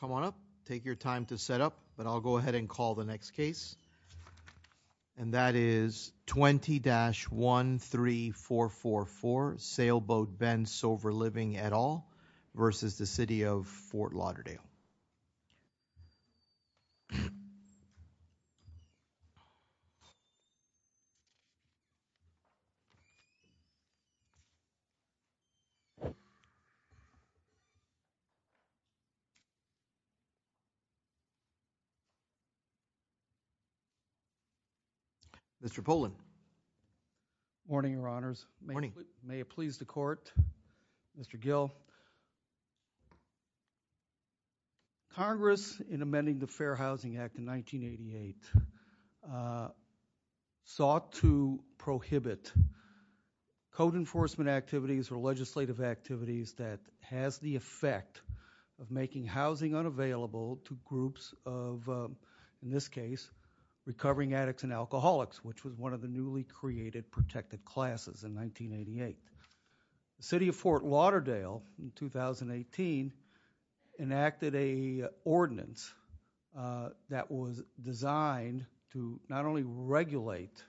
Come on up, take your time to set up, but I'll go ahead and call the next case. And that is 20-13444, Sailboat Ben Silver Living et al, versus the City of Fort Lauderdale. Mr. Poland. Good morning, Your Honors. Good morning. May it please the Court, Mr. Gill. So, Congress, in amending the Fair Housing Act in 1988, sought to prohibit code enforcement activities or legislative activities that has the effect of making housing unavailable to groups of, in this case, recovering addicts and alcoholics, which was one of the newly created protected classes in 1988. The City of Fort Lauderdale, in 2018, enacted a ordinance that was designed to not only regulate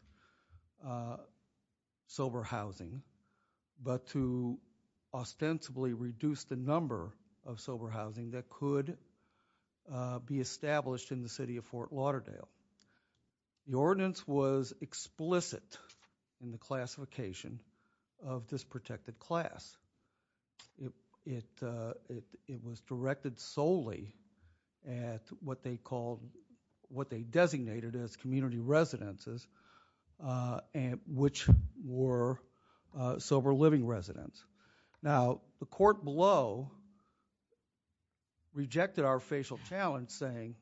sober housing, but to ostensibly reduce the number of sober housing that could be established in the City of Fort Lauderdale. The ordinance was explicit in the classification of this protected class. It was directed solely at what they called, what they designated as community residences, which were sober living residents. Now, the court below rejected our facial challenge saying,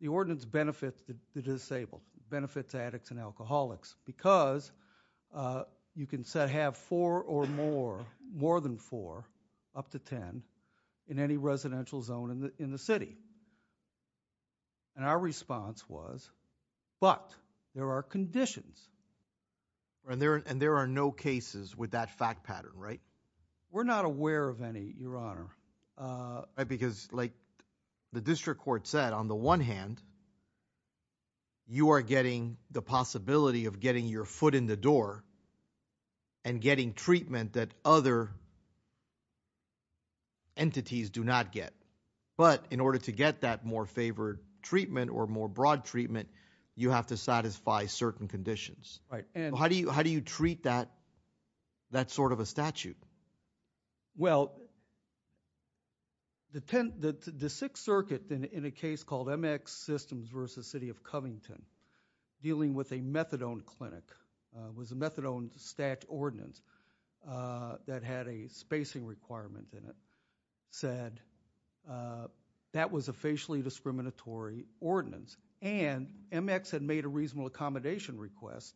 the ordinance benefits the disabled, benefits addicts and alcoholics, because you can have four or more, more than four, up to ten, in any residential zone in the city. And our response was, but there are conditions. And there are no cases with that fact pattern, right? We're not aware of any, Your Honor. Because like the district court said, on the one hand, you are getting the possibility of getting your foot in the door and getting treatment that other entities do not get. But in order to get that more favored treatment or more broad treatment, you have to satisfy certain conditions. How do you treat that sort of a statute? Well, the Sixth Circuit, in a case called MX Systems versus City of Covington, dealing with a methadone clinic, it was a methadone stat ordinance that had a spacing requirement in it, said that was a facially discriminatory ordinance. And MX had made a reasonable accommodation request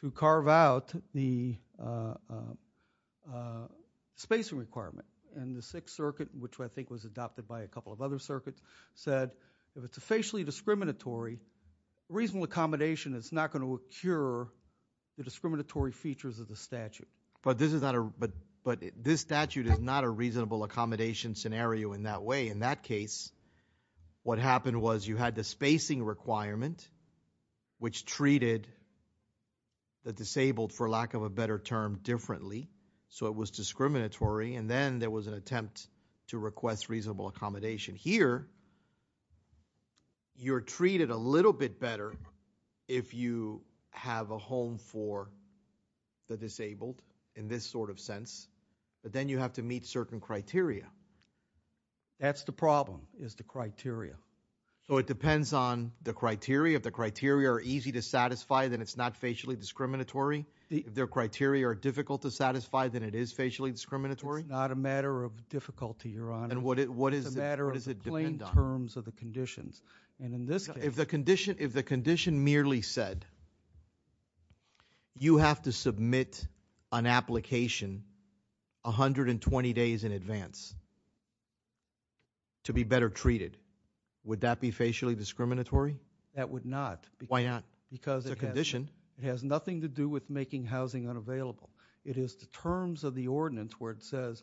to carve out the spacing requirement. And the Sixth Circuit, which I think was adopted by a couple of other circuits, said if it's a facially discriminatory reasonable accommodation, it's not going to cure the discriminatory features of the statute. But this statute is not a reasonable accommodation scenario in that way. In that case, what happened was you had the spacing requirement, which treated the disabled, for lack of a better term, differently. So it was discriminatory. And then there was an attempt to request reasonable accommodation. Here, you're treated a little bit better if you have a home for the disabled in this sort of sense. But then you have to meet certain criteria. That's the problem, is the criteria. So it depends on the criteria. If the criteria are easy to satisfy, then it's not facially discriminatory. If the criteria are difficult to satisfy, then it is facially discriminatory? It's not a matter of difficulty, Your Honor. And what does it depend on? It's a matter of plain terms of the conditions. If the condition merely said, you have to submit an application 120 days in advance to be better treated, would that be facially discriminatory? That would not. Why not? Because it has nothing to do with making housing unavailable. It is the terms of the ordinance where it says,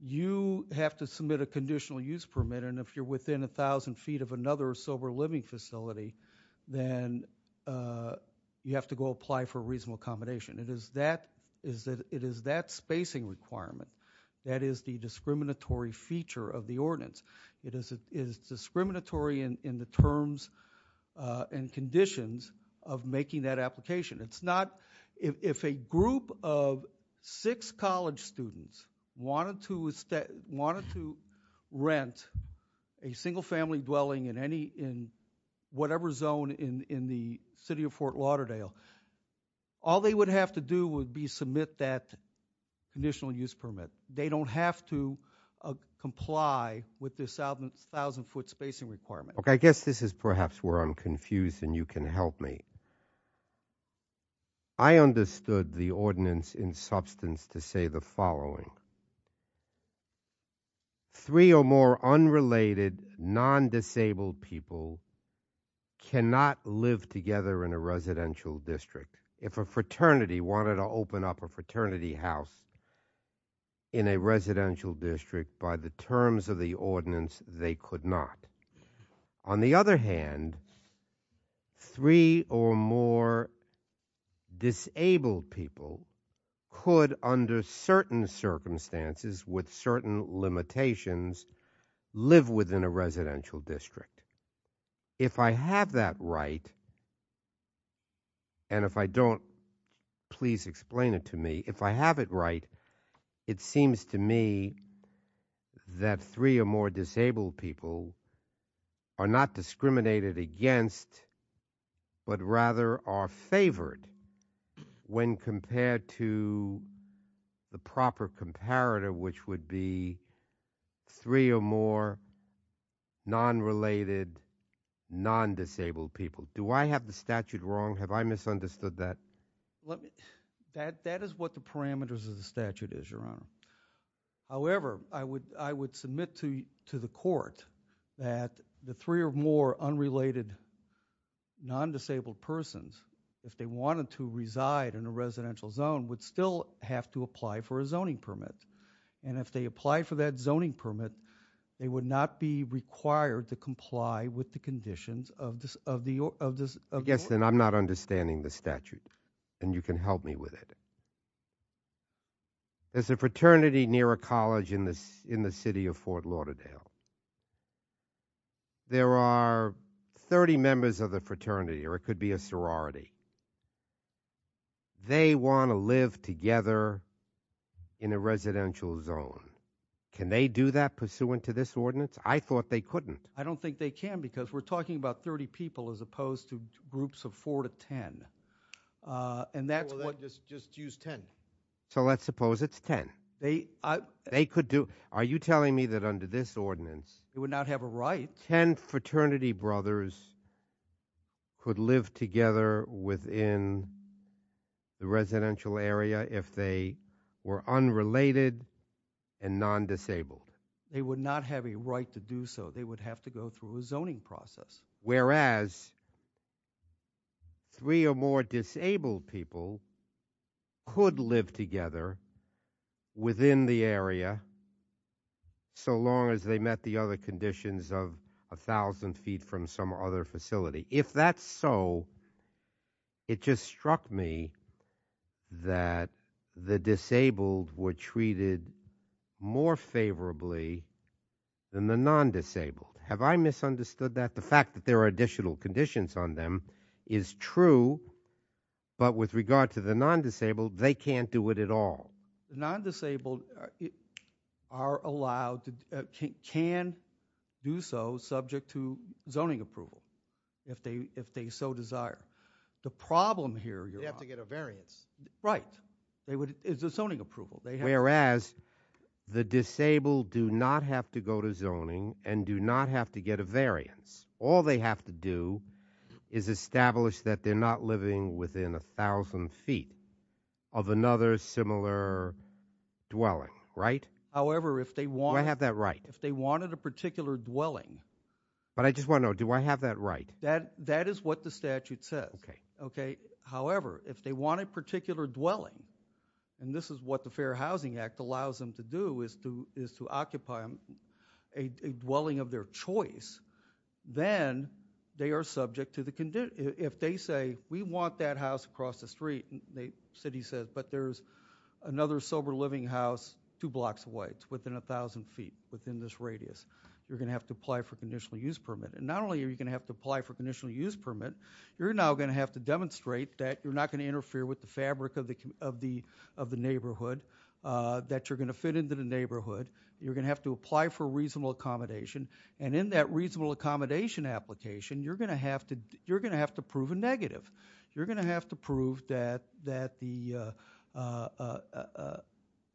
you have to submit a conditional use permit, and if you're within 1,000 feet of another sober living facility, then you have to go apply for reasonable accommodation. It is that spacing requirement that is the discriminatory feature of the ordinance. It is discriminatory in the terms and conditions of making that application. It's not. If a group of six college students wanted to rent a single-family dwelling in whatever zone in the city of Fort Lauderdale, all they would have to do would be submit that conditional use permit. They don't have to comply with this 1,000-foot spacing requirement. I guess this is perhaps where I'm confused, and you can help me. I understood the ordinance in substance to say the following. Three or more unrelated, non-disabled people cannot live together in a residential district. If a fraternity wanted to open up a fraternity house in a residential district, by the terms of the ordinance, they could not. On the other hand, three or more disabled people could, under certain circumstances with certain limitations, live within a residential district. If I have that right, and if I don't, please explain it to me. If I have it right, it seems to me that three or more disabled people are not discriminated against but rather are favored when compared to the proper comparator, which would be three or more non-related, non-disabled people. Do I have the statute wrong? Have I misunderstood that? That is what the parameters of the statute is, Your Honor. However, I would submit to the court that the three or more unrelated, non-disabled persons, if they wanted to reside in a residential zone, would still have to apply for a zoning permit. And if they apply for that zoning permit, they would not be required to comply with the conditions of the ordinance. Yes, and I'm not understanding the statute, and you can help me with it. There's a fraternity near a college in the city of Fort Lauderdale. There are 30 members of the fraternity, or it could be a sorority. They want to live together in a residential zone. Can they do that pursuant to this ordinance? I thought they couldn't. I don't think they can because we're talking about 30 people as opposed to groups of 4 to 10. Well, then just use 10. So let's suppose it's 10. Are you telling me that under this ordinance- They would not have a right. 10 fraternity brothers could live together within the residential area if they were unrelated and non-disabled? They would not have a right to do so. They would have to go through a zoning process. Whereas 3 or more disabled people could live together within the area so long as they met the other conditions of 1,000 feet from some other facility. If that's so, it just struck me that the disabled were treated more favorably than the non-disabled. Have I misunderstood that? The fact that there are additional conditions on them is true, but with regard to the non-disabled, they can't do it at all. The non-disabled can do so subject to zoning approval if they so desire. The problem here- They have to get a variance. Right. It's a zoning approval. Whereas the disabled do not have to go to zoning and do not have to get a variance. All they have to do is establish that they're not living within 1,000 feet of another similar dwelling, right? However, if they want- Do I have that right? If they wanted a particular dwelling- But I just want to know, do I have that right? That is what the statute says. However, if they want a particular dwelling, and this is what the Fair Housing Act allows them to do, is to occupy a dwelling of their choice, then they are subject to the condition- If they say, we want that house across the street, the city says, but there's another sober living house two blocks away. It's within 1,000 feet, within this radius. You're going to have to apply for a conditional use permit. Not only are you going to have to apply for a conditional use permit, you're now going to have to demonstrate that you're not going to interfere with the fabric of the neighborhood, that you're going to fit into the neighborhood. You're going to have to apply for reasonable accommodation, and in that reasonable accommodation application, you're going to have to prove a negative. You're going to have to prove that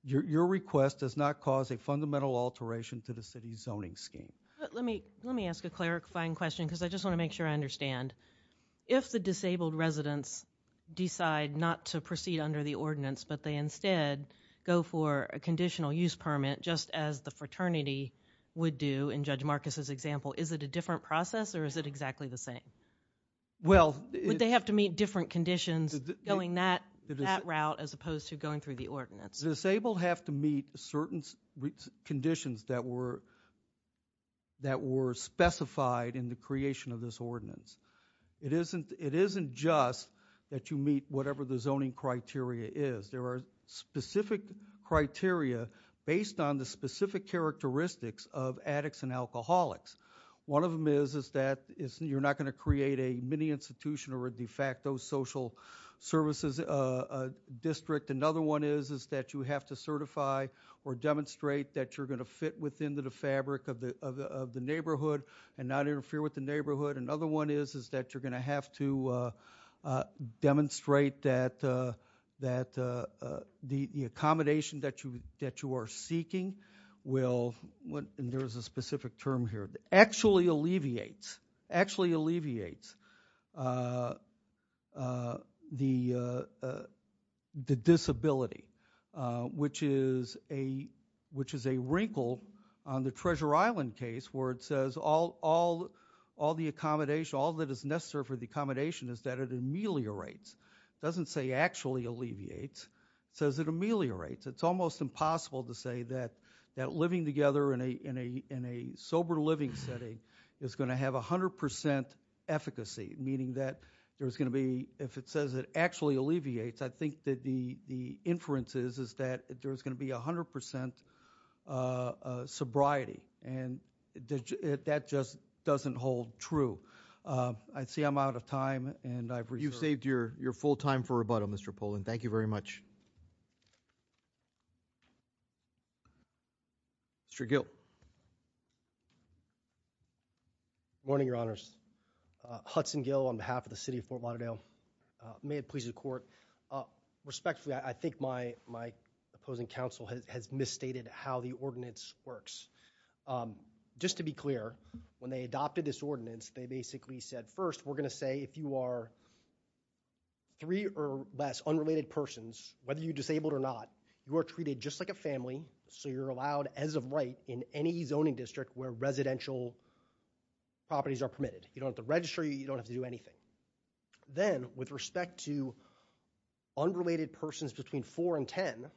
your request does not cause a fundamental alteration to the city's zoning scheme. Let me ask a clarifying question, because I just want to make sure I understand. If the disabled residents decide not to proceed under the ordinance, but they instead go for a conditional use permit, just as the fraternity would do, in Judge Marcus's example, is it a different process, or is it exactly the same? Well- Would they have to meet different conditions going that route, as opposed to going through the ordinance? Disabled have to meet certain conditions that were specified in the creation of this ordinance. It isn't just that you meet whatever the zoning criteria is. There are specific criteria based on the specific characteristics of addicts and alcoholics. One of them is that you're not going to create a mini-institution or a de facto social services district. Another one is that you have to certify or demonstrate that you're going to fit within the fabric of the neighborhood and not interfere with the neighborhood. Another one is that you're going to have to demonstrate that the accommodation that you are seeking will- and there's a specific term here- actually alleviates the disability, which is a wrinkle on the Treasure Island case where it says all that is necessary for the accommodation is that it ameliorates. It doesn't say actually alleviates. It says it ameliorates. It's almost impossible to say that living together in a sober living setting is going to have 100% efficacy, meaning that there's going to be- if it says it actually alleviates, I think that the inference is that there's going to be 100% sobriety, and that just doesn't hold true. I see I'm out of time, and I've reserved- Mr. Gill. Good morning, Your Honors. Hudson Gill on behalf of the City of Fort Lauderdale. May it please the Court. Respectfully, I think my opposing counsel has misstated how the ordinance works. Just to be clear, when they adopted this ordinance, they basically said, first, we're going to say if you are three or less unrelated persons, whether you're disabled or not, you are treated just like a family, so you're allowed as of right in any zoning district where residential properties are permitted. You don't have to register. You don't have to do anything. Then, with respect to unrelated persons between four and ten,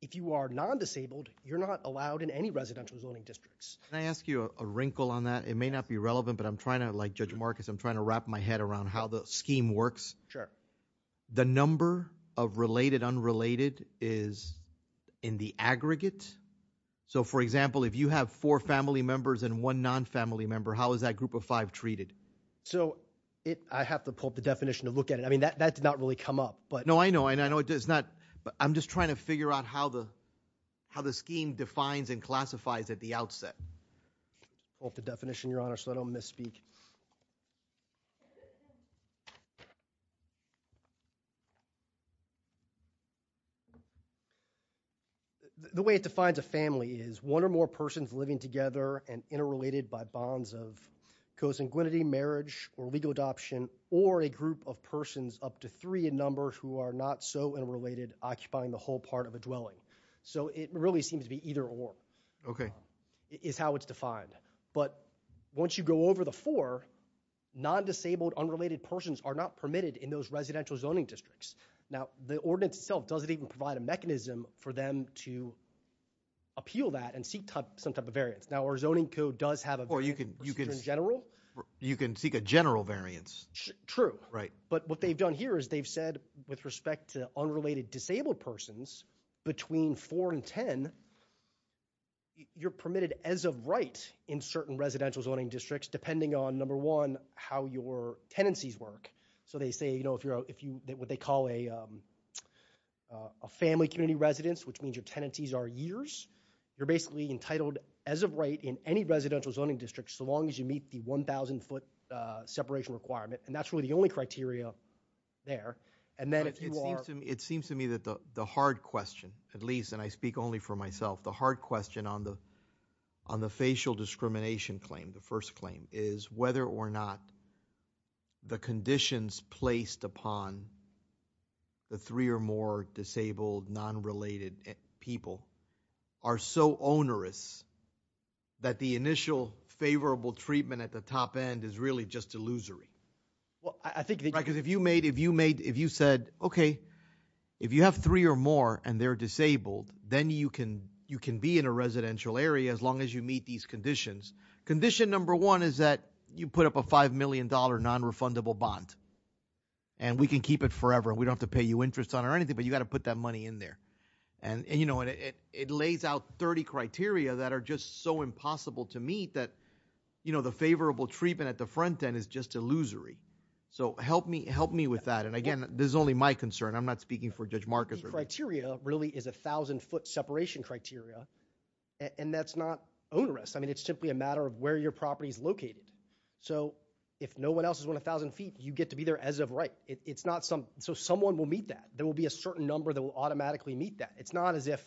if you are non-disabled, you're not allowed in any residential zoning districts. Can I ask you a wrinkle on that? It may not be relevant, but I'm trying to- like Judge Marcus, I'm trying to wrap my head around how the scheme works. Sure. The number of related unrelated is in the aggregate. For example, if you have four family members and one non-family member, how is that group of five treated? I have to pull up the definition to look at it. That did not really come up. No, I know. I'm just trying to figure out how the scheme defines and classifies at the outset. I'll pull up the definition, Your Honor, so I don't misspeak. The way it defines a family is one or more persons living together and interrelated by bonds of co-sanguinity, marriage, or legal adoption, or a group of persons up to three in number who are not so interrelated occupying the whole part of a dwelling. So it really seems to be either or is how it's defined. But once you go over the four, Now, the ordinance itself doesn't even provide a mechanism for them to appeal that and seek some type of variance. Now, our zoning code does have a variance in general. You can seek a general variance. True. But what they've done here is they've said with respect to unrelated disabled persons between four and ten, you're permitted as of right in certain residential zoning districts depending on, number one, how your tenancies work. So they say if you're what they call a family community residence, which means your tenancies are years, you're basically entitled as of right in any residential zoning district so long as you meet the 1,000-foot separation requirement. And that's really the only criteria there. But it seems to me that the hard question, at least, and I speak only for myself, the hard question on the facial discrimination claim, the first claim, is whether or not the conditions placed upon the three or more disabled, non-related people are so onerous that the initial favorable treatment at the top end is really just illusory. Because if you said, okay, if you have three or more and they're disabled, then you can be in a residential area as long as you meet these conditions. Condition number one is that you put up a $5 million nonrefundable bond and we can keep it forever. We don't have to pay you interest on it or anything, but you've got to put that money in there. And, you know, it lays out 30 criteria that are just so impossible to meet that, you know, the favorable treatment at the front end is just illusory. So help me with that. And, again, this is only my concern. I'm not speaking for Judge Marcus. The criteria really is a 1,000-foot separation criteria, and that's not onerous. I mean, it's simply a matter of where your property is located. So if no one else is 1,000 feet, you get to be there as of right. So someone will meet that. There will be a certain number that will automatically meet that. It's not as if,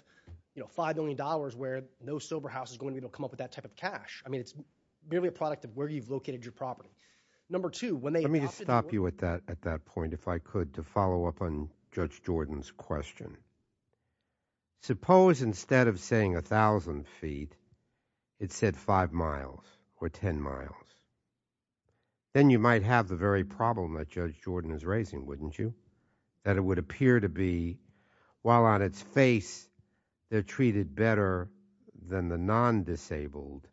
you know, $5 million where no sober house is going to be able to come up with that type of cash. I mean, it's merely a product of where you've located your property. Number two, when they adopted the rules. Let me just stop you at that point, if I could, to follow up on Judge Jordan's question. Suppose instead of saying 1,000 feet, it said 5 miles or 10 miles. Then you might have the very problem that Judge Jordan is raising, wouldn't you? That it would appear to be, while on its face, they're treated better than the non-disabled.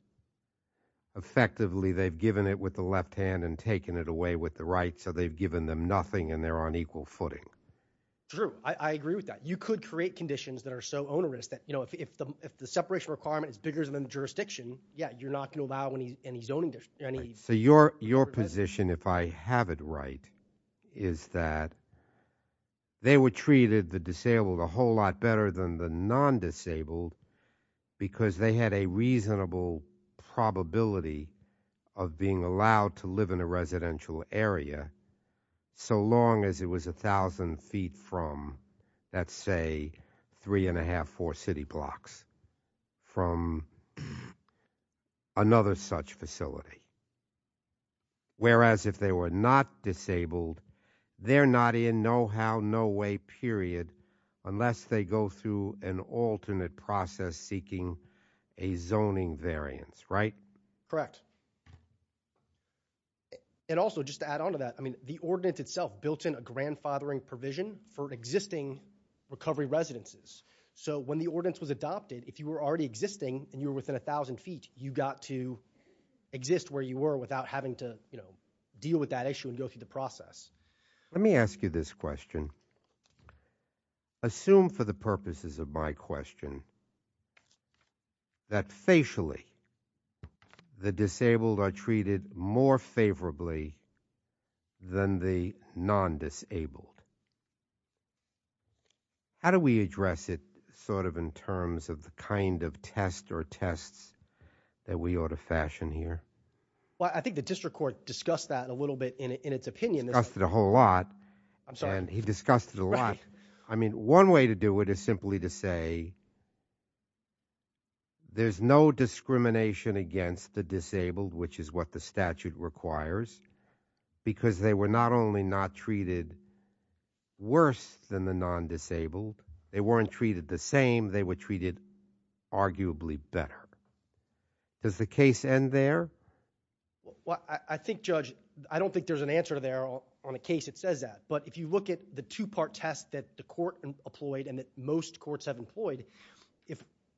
Effectively, they've given it with the left hand and taken it away with the right, so they've given them nothing and they're on equal footing. True. I agree with that. You could create conditions that are so onerous that, you know, if the separation requirement is bigger than the jurisdiction, yeah, you're not going to allow any zoning. So your position, if I have it right, is that they were treated, the disabled, a whole lot better than the non-disabled because they had a reasonable probability of being allowed to live in a residential area. So long as it was 1,000 feet from, let's say, three and a half, four city blocks, from another such facility. Whereas if they were not disabled, they're not in no-how, no-way period, unless they go through an alternate process seeking a zoning variance, right? Correct. And also, just to add on to that, I mean the ordinance itself built in a grandfathering provision for existing recovery residences. So when the ordinance was adopted, if you were already existing and you were within 1,000 feet, you got to exist where you were without having to, you know, deal with that issue and go through the process. Let me ask you this question. Assume for the purposes of my question that facially, the disabled are treated more favorably than the non-disabled. How do we address it sort of in terms of the kind of test or tests that we ought to fashion here? Well, I think the district court discussed that a little bit in its opinion. Discussed it a whole lot. I'm sorry. He discussed it a lot. I mean, one way to do it is simply to say there's no discrimination against the disabled, which is what the statute requires because they were not only not treated worse than the non-disabled, they weren't treated the same, they were treated arguably better. Does the case end there? Well, I think, Judge, I don't think there's an answer to there on a case that says that. But if you look at the two-part test that the court employed and that most courts have employed,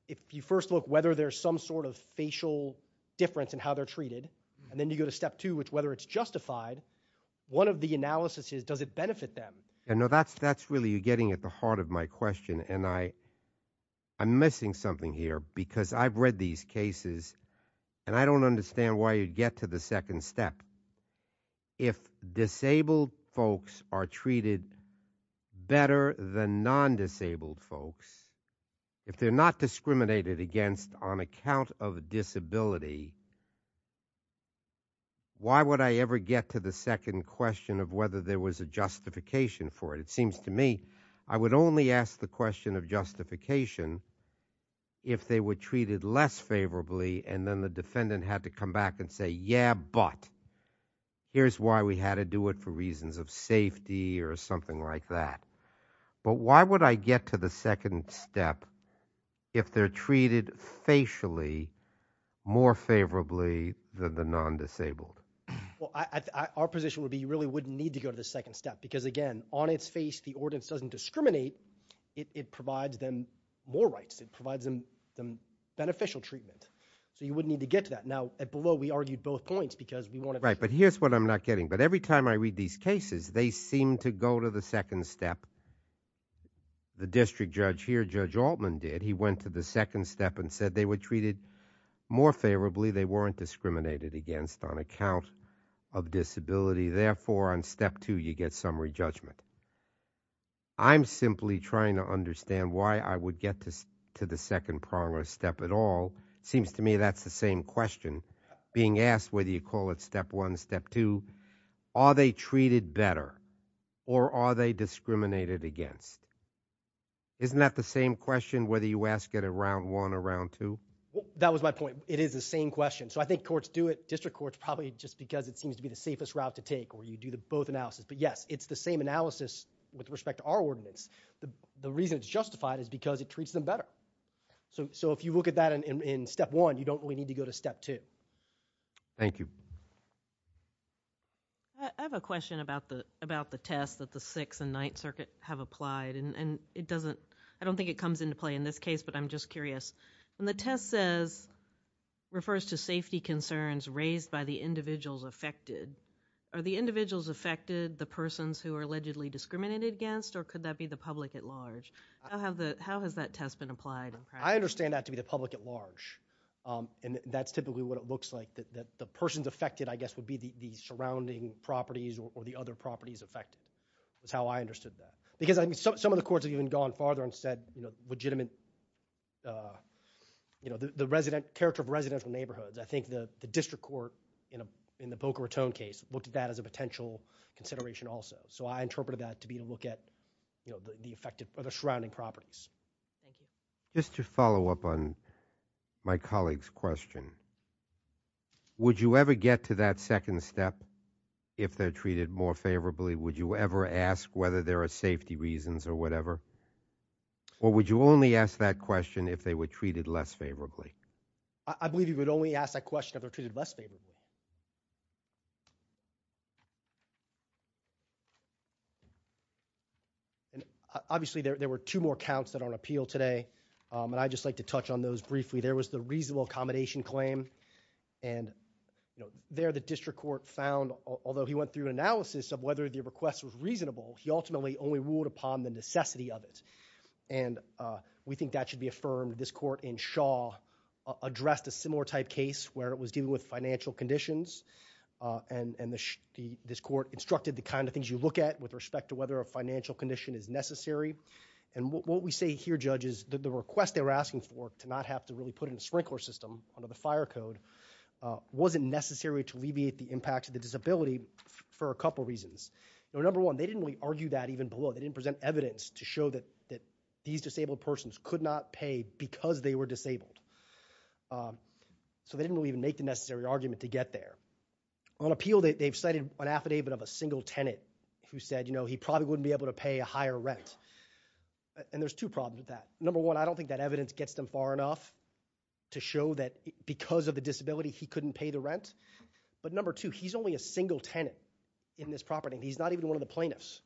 if you first look whether there's some sort of facial difference in how they're treated, and then you go to step two, which whether it's justified, one of the analysis is does it benefit them? No, that's really getting at the heart of my question. And I'm missing something here because I've read these cases, and I don't understand why you'd get to the second step. If disabled folks are treated better than non-disabled folks, if they're not discriminated against on account of disability, why would I ever get to the second question of whether there was a justification for it? It seems to me I would only ask the question of justification if they were here's why we had to do it for reasons of safety or something like that. But why would I get to the second step if they're treated facially more favorably than the non-disabled? Well, our position would be you really wouldn't need to go to the second step because, again, on its face, the ordinance doesn't discriminate. It provides them more rights. It provides them beneficial treatment. So you wouldn't need to get to that. Now, below, we argued both points because we wanted to. Right. But here's what I'm not getting. But every time I read these cases, they seem to go to the second step. The district judge here, Judge Altman, did. He went to the second step and said they were treated more favorably. They weren't discriminated against on account of disability. Therefore, on step two, you get summary judgment. I'm simply trying to understand why I would get to the second prong or step at all. It seems to me that's the same question being asked, whether you call it step one, step two, are they treated better or are they discriminated against? Isn't that the same question, whether you ask it around one around two? That was my point. It is the same question. So I think courts do it. District courts, probably just because it seems to be the safest route to take or you do the both analysis. But yes, it's the same analysis with respect to our ordinance. The reason it's justified is because it treats them better. So if you look at that in step one, you don't really need to go to step two. Thank you. I have a question about the, about the test that the sixth and ninth circuit have applied and it doesn't, I don't think it comes into play in this case, but I'm just curious when the test says refers to safety concerns raised by the individuals affected, are the individuals affected the persons who are allegedly discriminated against, or could that be the public at large? How have the, how has that test been applied? I understand that to be the public at large. And that's typically what it looks like, that the person's affected, I guess would be the surrounding properties or the other properties affected is how I understood that. Because I mean, some of the courts have even gone farther and said, you know, legitimate, you know, the resident character of residential neighborhoods. I think the district court in a, in the Boca Raton case looked at that as a potential consideration also. So I interpreted that to be to look at, you know, the effect of the surrounding properties. Thank you. Just to follow up on my colleague's question, would you ever get to that second step? If they're treated more favorably, would you ever ask whether there are safety reasons or whatever? Or would you only ask that question if they were treated less favorably? I believe you would only ask that question if they're treated less favorably. Thank you. And obviously there, there were two more counts that are on appeal today. And I just like to touch on those briefly. There was the reasonable accommodation claim and, you know, there the district court found, although he went through an analysis of whether the request was reasonable, he ultimately only ruled upon the necessity of it. And we think that should be affirmed. This court in Shaw addressed a similar type case where it was dealing with financial conditions. And this court instructed the kind of things you look at with respect to whether a financial condition is necessary. And what we say here, judges, the request they were asking for to not have to really put in a sprinkler system under the fire code, wasn't necessary to alleviate the impact of the disability for a couple reasons. Number one, they didn't really argue that even below they didn't present evidence to show that, that these disabled persons could not pay because they were disabled. So they didn't even make the necessary argument to get there. On appeal, they've cited an affidavit of a single tenant who said, you know, he probably wouldn't be able to pay a higher rent. And there's two problems with that. Number one, I don't think that evidence gets them far enough to show that because of the disability, he couldn't pay the rent. But number two, he's only a single tenant in this property. He's not even one of the plaintiffs.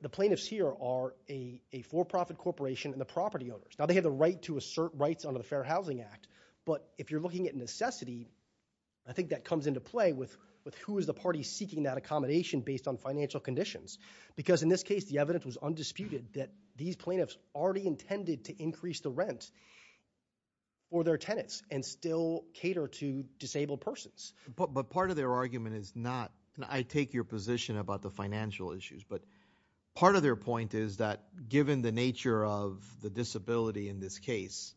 The plaintiffs here are a, a for-profit corporation and the property owners. Now they have the right to assert rights under the fair housing act. But if you're looking at necessity, I think that comes into play with, with who is the party seeking that accommodation based on financial conditions. Because in this case, the evidence was undisputed that these plaintiffs already intended to increase the rent or their tenants and still cater to disabled persons. But, but part of their argument is not, and I take your position about the financial issues, but part of their point is that given the nature of the disability in this case,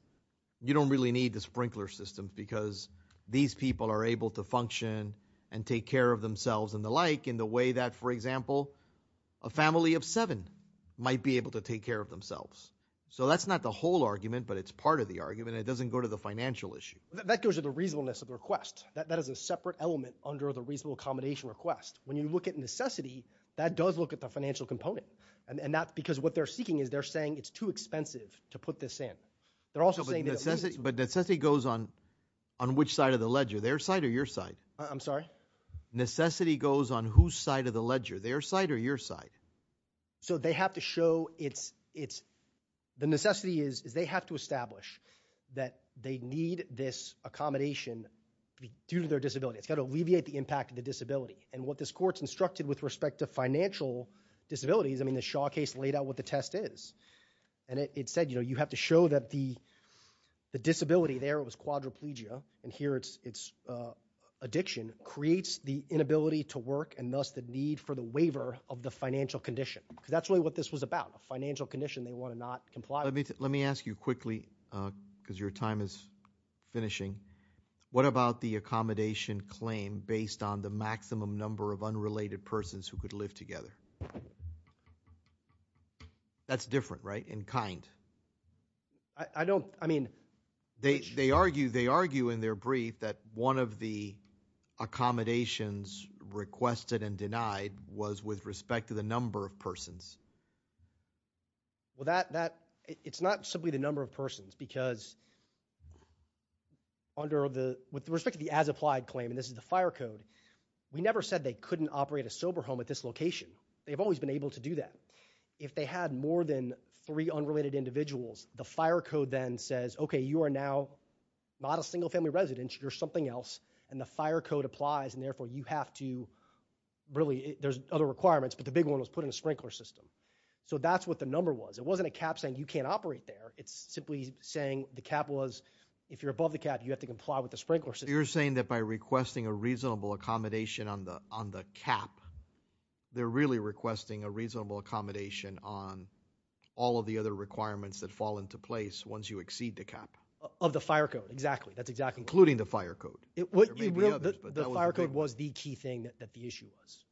you don't really need the sprinkler systems because these people are able to function and take care of themselves and the like in the way that, for example, a family of seven might be able to take care of themselves. So that's not the whole argument, but it's part of the argument. It doesn't go to the financial issue. That goes to the reasonableness of the request. That is a separate element under the reasonable accommodation request. When you look at necessity, that does look at the financial component and that's because what they're seeking is they're saying it's too expensive to put this in. They're also saying. But necessity goes on, on which side of the ledger, their side or your side? I'm sorry. Necessity goes on whose side of the ledger, their side or your side. So they have to show it's, it's the necessity is, is they have to establish that they need this accommodation due to their disability. It's got to alleviate the impact of the disability. And what this court's instructed with respect to financial disabilities. I mean, the Shaw case laid out what the test is and it said, you know, you have to show that the disability there, it was quadriplegia and here it's, it's a addiction creates the inability to work and thus the need for the waiver of the financial condition. Cause that's really what this was about a financial condition. They want to not comply. Let me, let me ask you quickly cause your time is finishing. What about the accommodation claim based on the maximum number of unrelated persons who could live together? That's different, right? In kind, I don't, I mean, they, they argue, they argue in their brief that one of the accommodations requested and denied was with respect to the number of persons. Well, that, that it's not simply the number of persons because under the, with respect to the as applied claim, and this is the fire code, we never said they couldn't operate a sober home at this location. They've always been able to do that. If they had more than three unrelated individuals, the fire code then says, okay, you are now not a single family residence. You're something else. And the fire code applies and therefore you have to really, there's other requirements, but the big one was put in a sprinkler system. So that's what the number was. It wasn't a cap saying you can't operate there. It's simply saying the cap was, if you're above the cap, you have to comply with the sprinkler system. You're saying that by requesting a reasonable accommodation on the, on the cap, they're really requesting a reasonable accommodation on all of the other requirements that fall into place. Once you exceed the cap. Of the fire code. Exactly. That's exactly. Including the fire code. The fire code was the key thing that the issue was.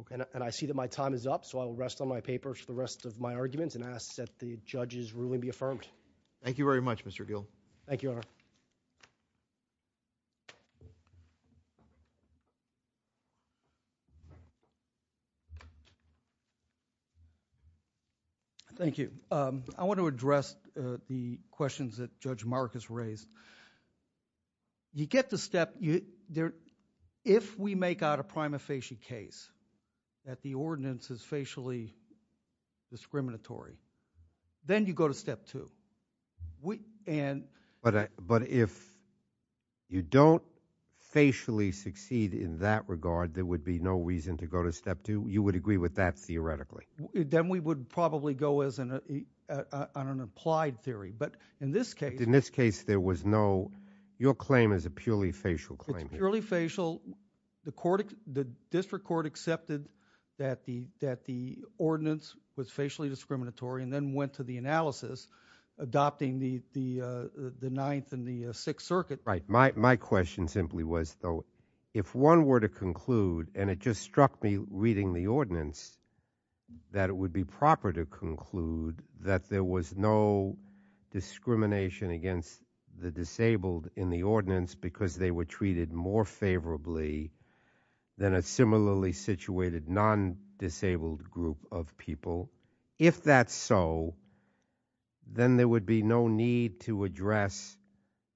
Okay. And I see that my time is up. So I will rest on my papers for the rest of my arguments and ask that the judge's ruling be affirmed. Thank you very much, Mr. Thank you, Your Honor. Thank you. I want to address the questions that judge Marcus raised. You get the step there. If we make out a prima facie case. That the ordinance is facially. Discriminatory. Then you go to step two. We. And. But, but if. You don't. Facially succeed in that regard. There would be no reason to go to step two. You would agree with that. Theoretically. Then we would probably go as an, on an applied theory, but in this case, in this case, there was no, your claim is a purely facial claim. Early facial. The court, the district court accepted. That the, that the ordinance was facially discriminatory and then went to the analysis. Adopting the, the, the ninth and the sixth circuit. Right. My, my question simply was, though, if one were to conclude and it just struck me reading the ordinance. That it would be proper to conclude that there was no. Discrimination against the disabled in the ordinance because they were treated more favorably. Then a similarly situated non disabled group of people. If that's so. Then there would be no need to address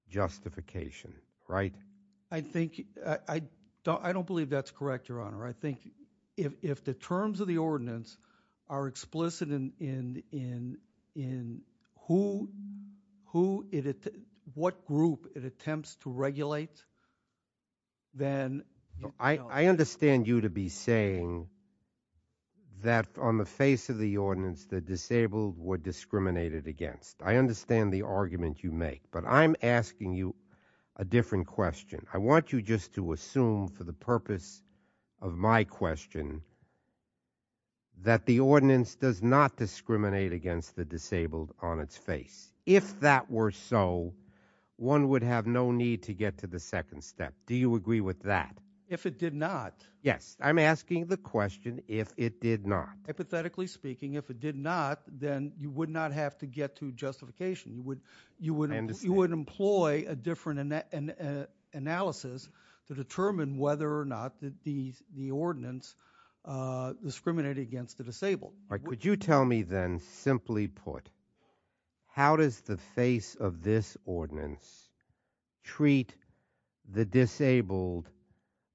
justification. I think I don't, I don't believe that's correct. Your honor. I think if, if the terms of the ordinance are explicit in, in, in who, who it is, what group it attempts to regulate. Then I understand you to be saying. That on the face of the ordinance, the disabled were discriminated against. I understand the argument you make, but I'm asking you a different question. I want you just to assume for the purpose of my question. That the ordinance does not discriminate against the disabled on its face. If that were so one would have no need to get to the second step. Do you agree with that? If it did not, yes, I'm asking the question. If it did not hypothetically speaking, if it did not, then you would not have to get to justification. You would, you wouldn't, you wouldn't employ a different analysis to determine whether or not the, the, the ordinance discriminated against the disabled. All right. Could you tell me then simply put, how does the face of this ordinance treat the disabled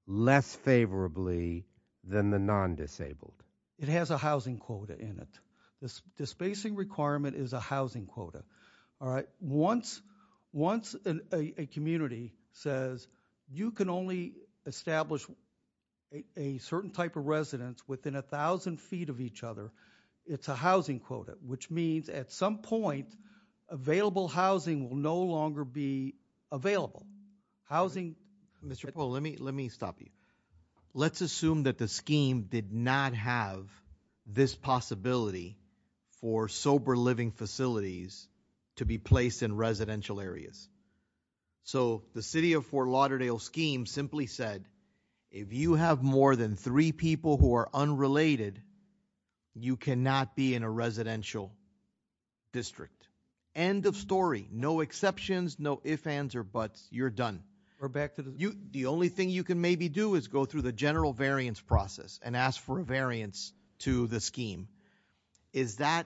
less favorably than the non-disabled? It has a housing quota in it. This spacing requirement is a housing quota. All right. Once, once a community says you can only establish a certain type of residence within a thousand feet of each other, it's a housing quota, which means at some point available housing will no longer be available. Housing. Mr. Paul, let me, let me stop you. Let's assume that the scheme did not have this possibility for sober living facilities to be placed in residential areas. So the city of Fort Lauderdale scheme simply said, if you have more than three people who are unrelated, you cannot be in a residential district. End of story, no exceptions, no if, ands or buts you're done. We're back to the, you, the only thing you can maybe do is go through the general variance process and ask for a variance to the scheme. Is that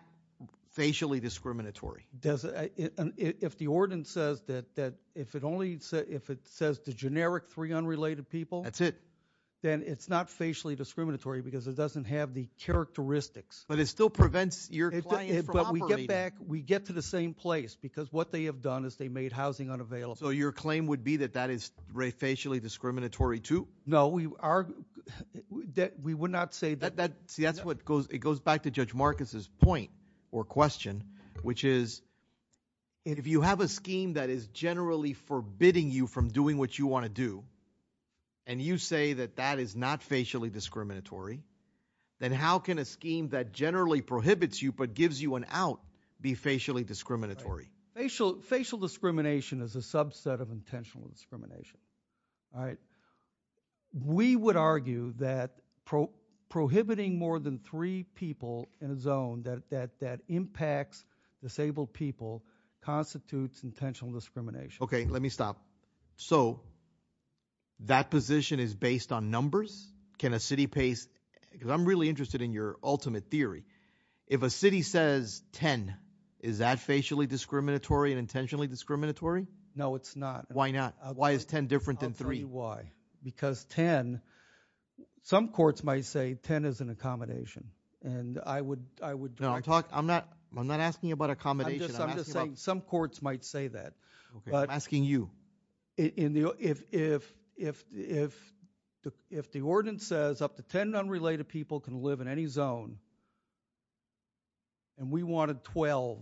facially discriminatory? Does it, if the ordinance says that, that if it only said, if it says the generic three unrelated people, that's it, then it's not facially discriminatory because it doesn't have the characteristics, but it still prevents your client. But we get back, we get to the same place because what they have done is they made housing unavailable. So your claim would be that that is Ray facially discriminatory too. No, we are that we would not say that that, see, that's what goes. It goes back to judge Marcus's point or question, which is if you have a scheme that is generally forbidding you from doing what you want to do, and you say that that is not facially discriminatory, then how can a scheme that generally prohibits you, but gives you an out be facially discriminatory? Facial facial discrimination is a subset of intentional discrimination. All right. We would argue that pro prohibiting more than three people in a zone that, that, that impacts disabled people constitutes intentional discrimination. Okay. Let me stop. So that position is based on numbers. Can a city pace? Cause I'm really interested in your ultimate theory. If a city says 10, is that facially discriminatory and intentionally discriminatory? No, it's not. Why not? Why is 10 different than three? Why? Because 10, some courts might say 10 is an accommodation and I would, I would talk. I'm not, I'm not asking you about accommodation. I'm just saying some courts might say that, but asking you in the, if, if, if, if, if the ordinance says up to 10 unrelated people can live in any zone and we wanted 12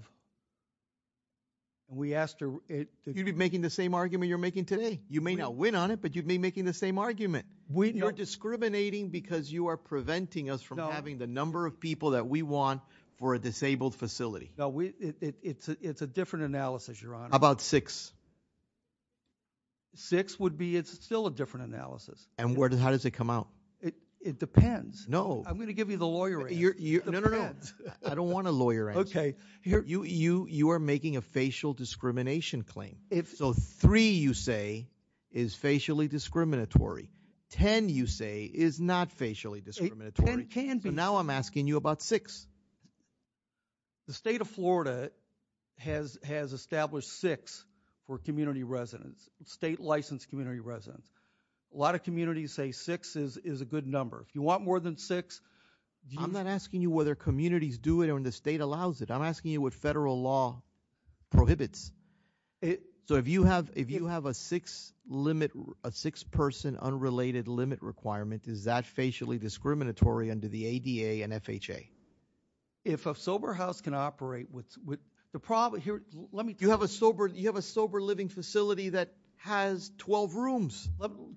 and we asked her, you'd be making the same argument you're making today. You may not win on it, but you'd be making the same argument when you're discriminating because you are preventing us from having the number of people that we want for a disabled facility. No, we, it's a, it's a different analysis. You're on about six, six would be, it's still a different analysis. And where does, how does it come out? It depends. No, I'm going to give you the lawyer. You're you. No, no, no. I don't want a lawyer. Okay. Here you, you, you are making a facial discrimination claim. If so, three, you say is facially discriminatory. 10 you say is not facially discriminatory. It can be. Now I'm asking you about six, the state of Florida has, has established six for community residents, state licensed community residents. A lot of communities say six is, is a good number. If you want more than six, I'm not asking you whether communities do it or in the state allows it. I'm asking you what federal law prohibits it. So if you have, if you have a six limit, a six person unrelated limit requirement, Is that facially discriminatory under the ADA and FHA? If a sober house can operate with the problem here, let me, you have a sober, you have a sober living facility that has 12 rooms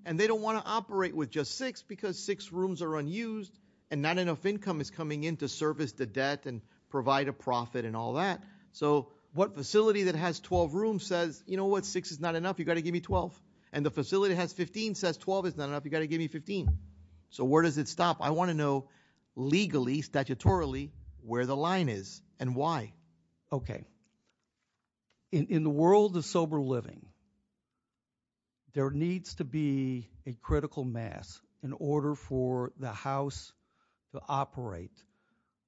and they don't want to operate with just six because six rooms are unused and not enough income is coming into service, the debt and provide a profit and all that. So what facility that has 12 rooms says, you know what? Six is not enough. You've got to give me 12 and the facility has 15 says 12 is not enough. You've got to give me 15. So where does it stop? I want to know legally, statutorily where the line is and why. Okay. In the world of sober living, there needs to be a critical mass in order for the house to operate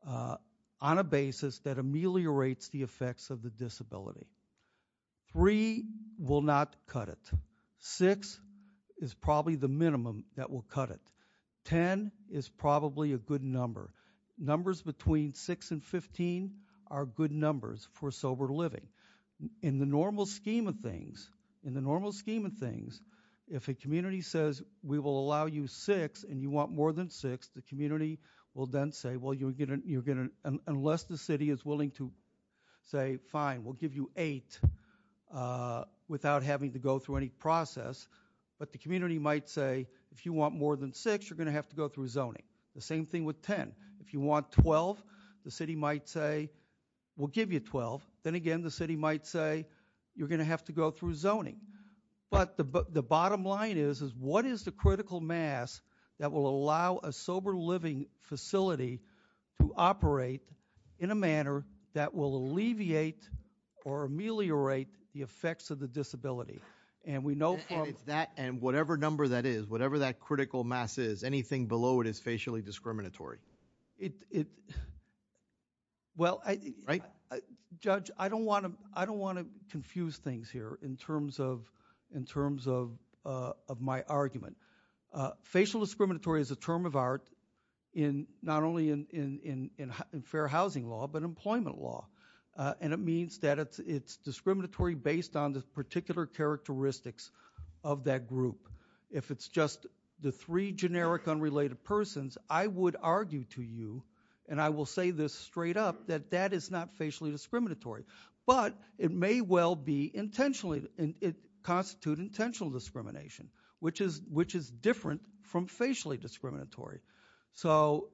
on a basis that ameliorates the effects of the disability. Three will not cut it. Six is probably the minimum that will cut it. 10 is probably a good number. Numbers between six and 15 are good numbers for sober living. In the normal scheme of things, in the normal scheme of things, if a community says we will allow you six and you want more than six, the community will then say, well, you're going to, unless the city is willing to say, fine, we'll give you eight without having to go through any process. But the community might say, if you want more than six, you're going to have to go through zoning. The same thing with 10. If you want 12, the city might say we'll give you 12. Then again, the city might say you're going to have to go through zoning. But the bottom line is, is what is the critical mass that will allow a sober living facility to or ameliorate the effects of the disability? And we know from. And it's that, and whatever number that is, whatever that critical mass is, anything below it is facially discriminatory. It, it, well, right. Judge, I don't want to, I don't want to confuse things here in terms of, in terms of, of my argument. Facial discriminatory is a term of art in not only in, in, in, in fair housing law, but employment law. And it means that it's, it's discriminatory based on the particular characteristics of that group. If it's just the three generic unrelated persons, I would argue to you. And I will say this straight up, that that is not facially discriminatory, but it may well be intentionally. It constitute intentional discrimination, which is, which is different from facially discriminatory. So.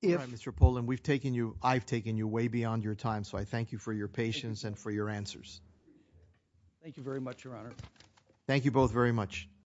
Yeah, Paul, and we've taken you, I've taken you way beyond your time. So I thank you for your patience and for your answers. Thank you very much, Your Honor. Thank you both very much.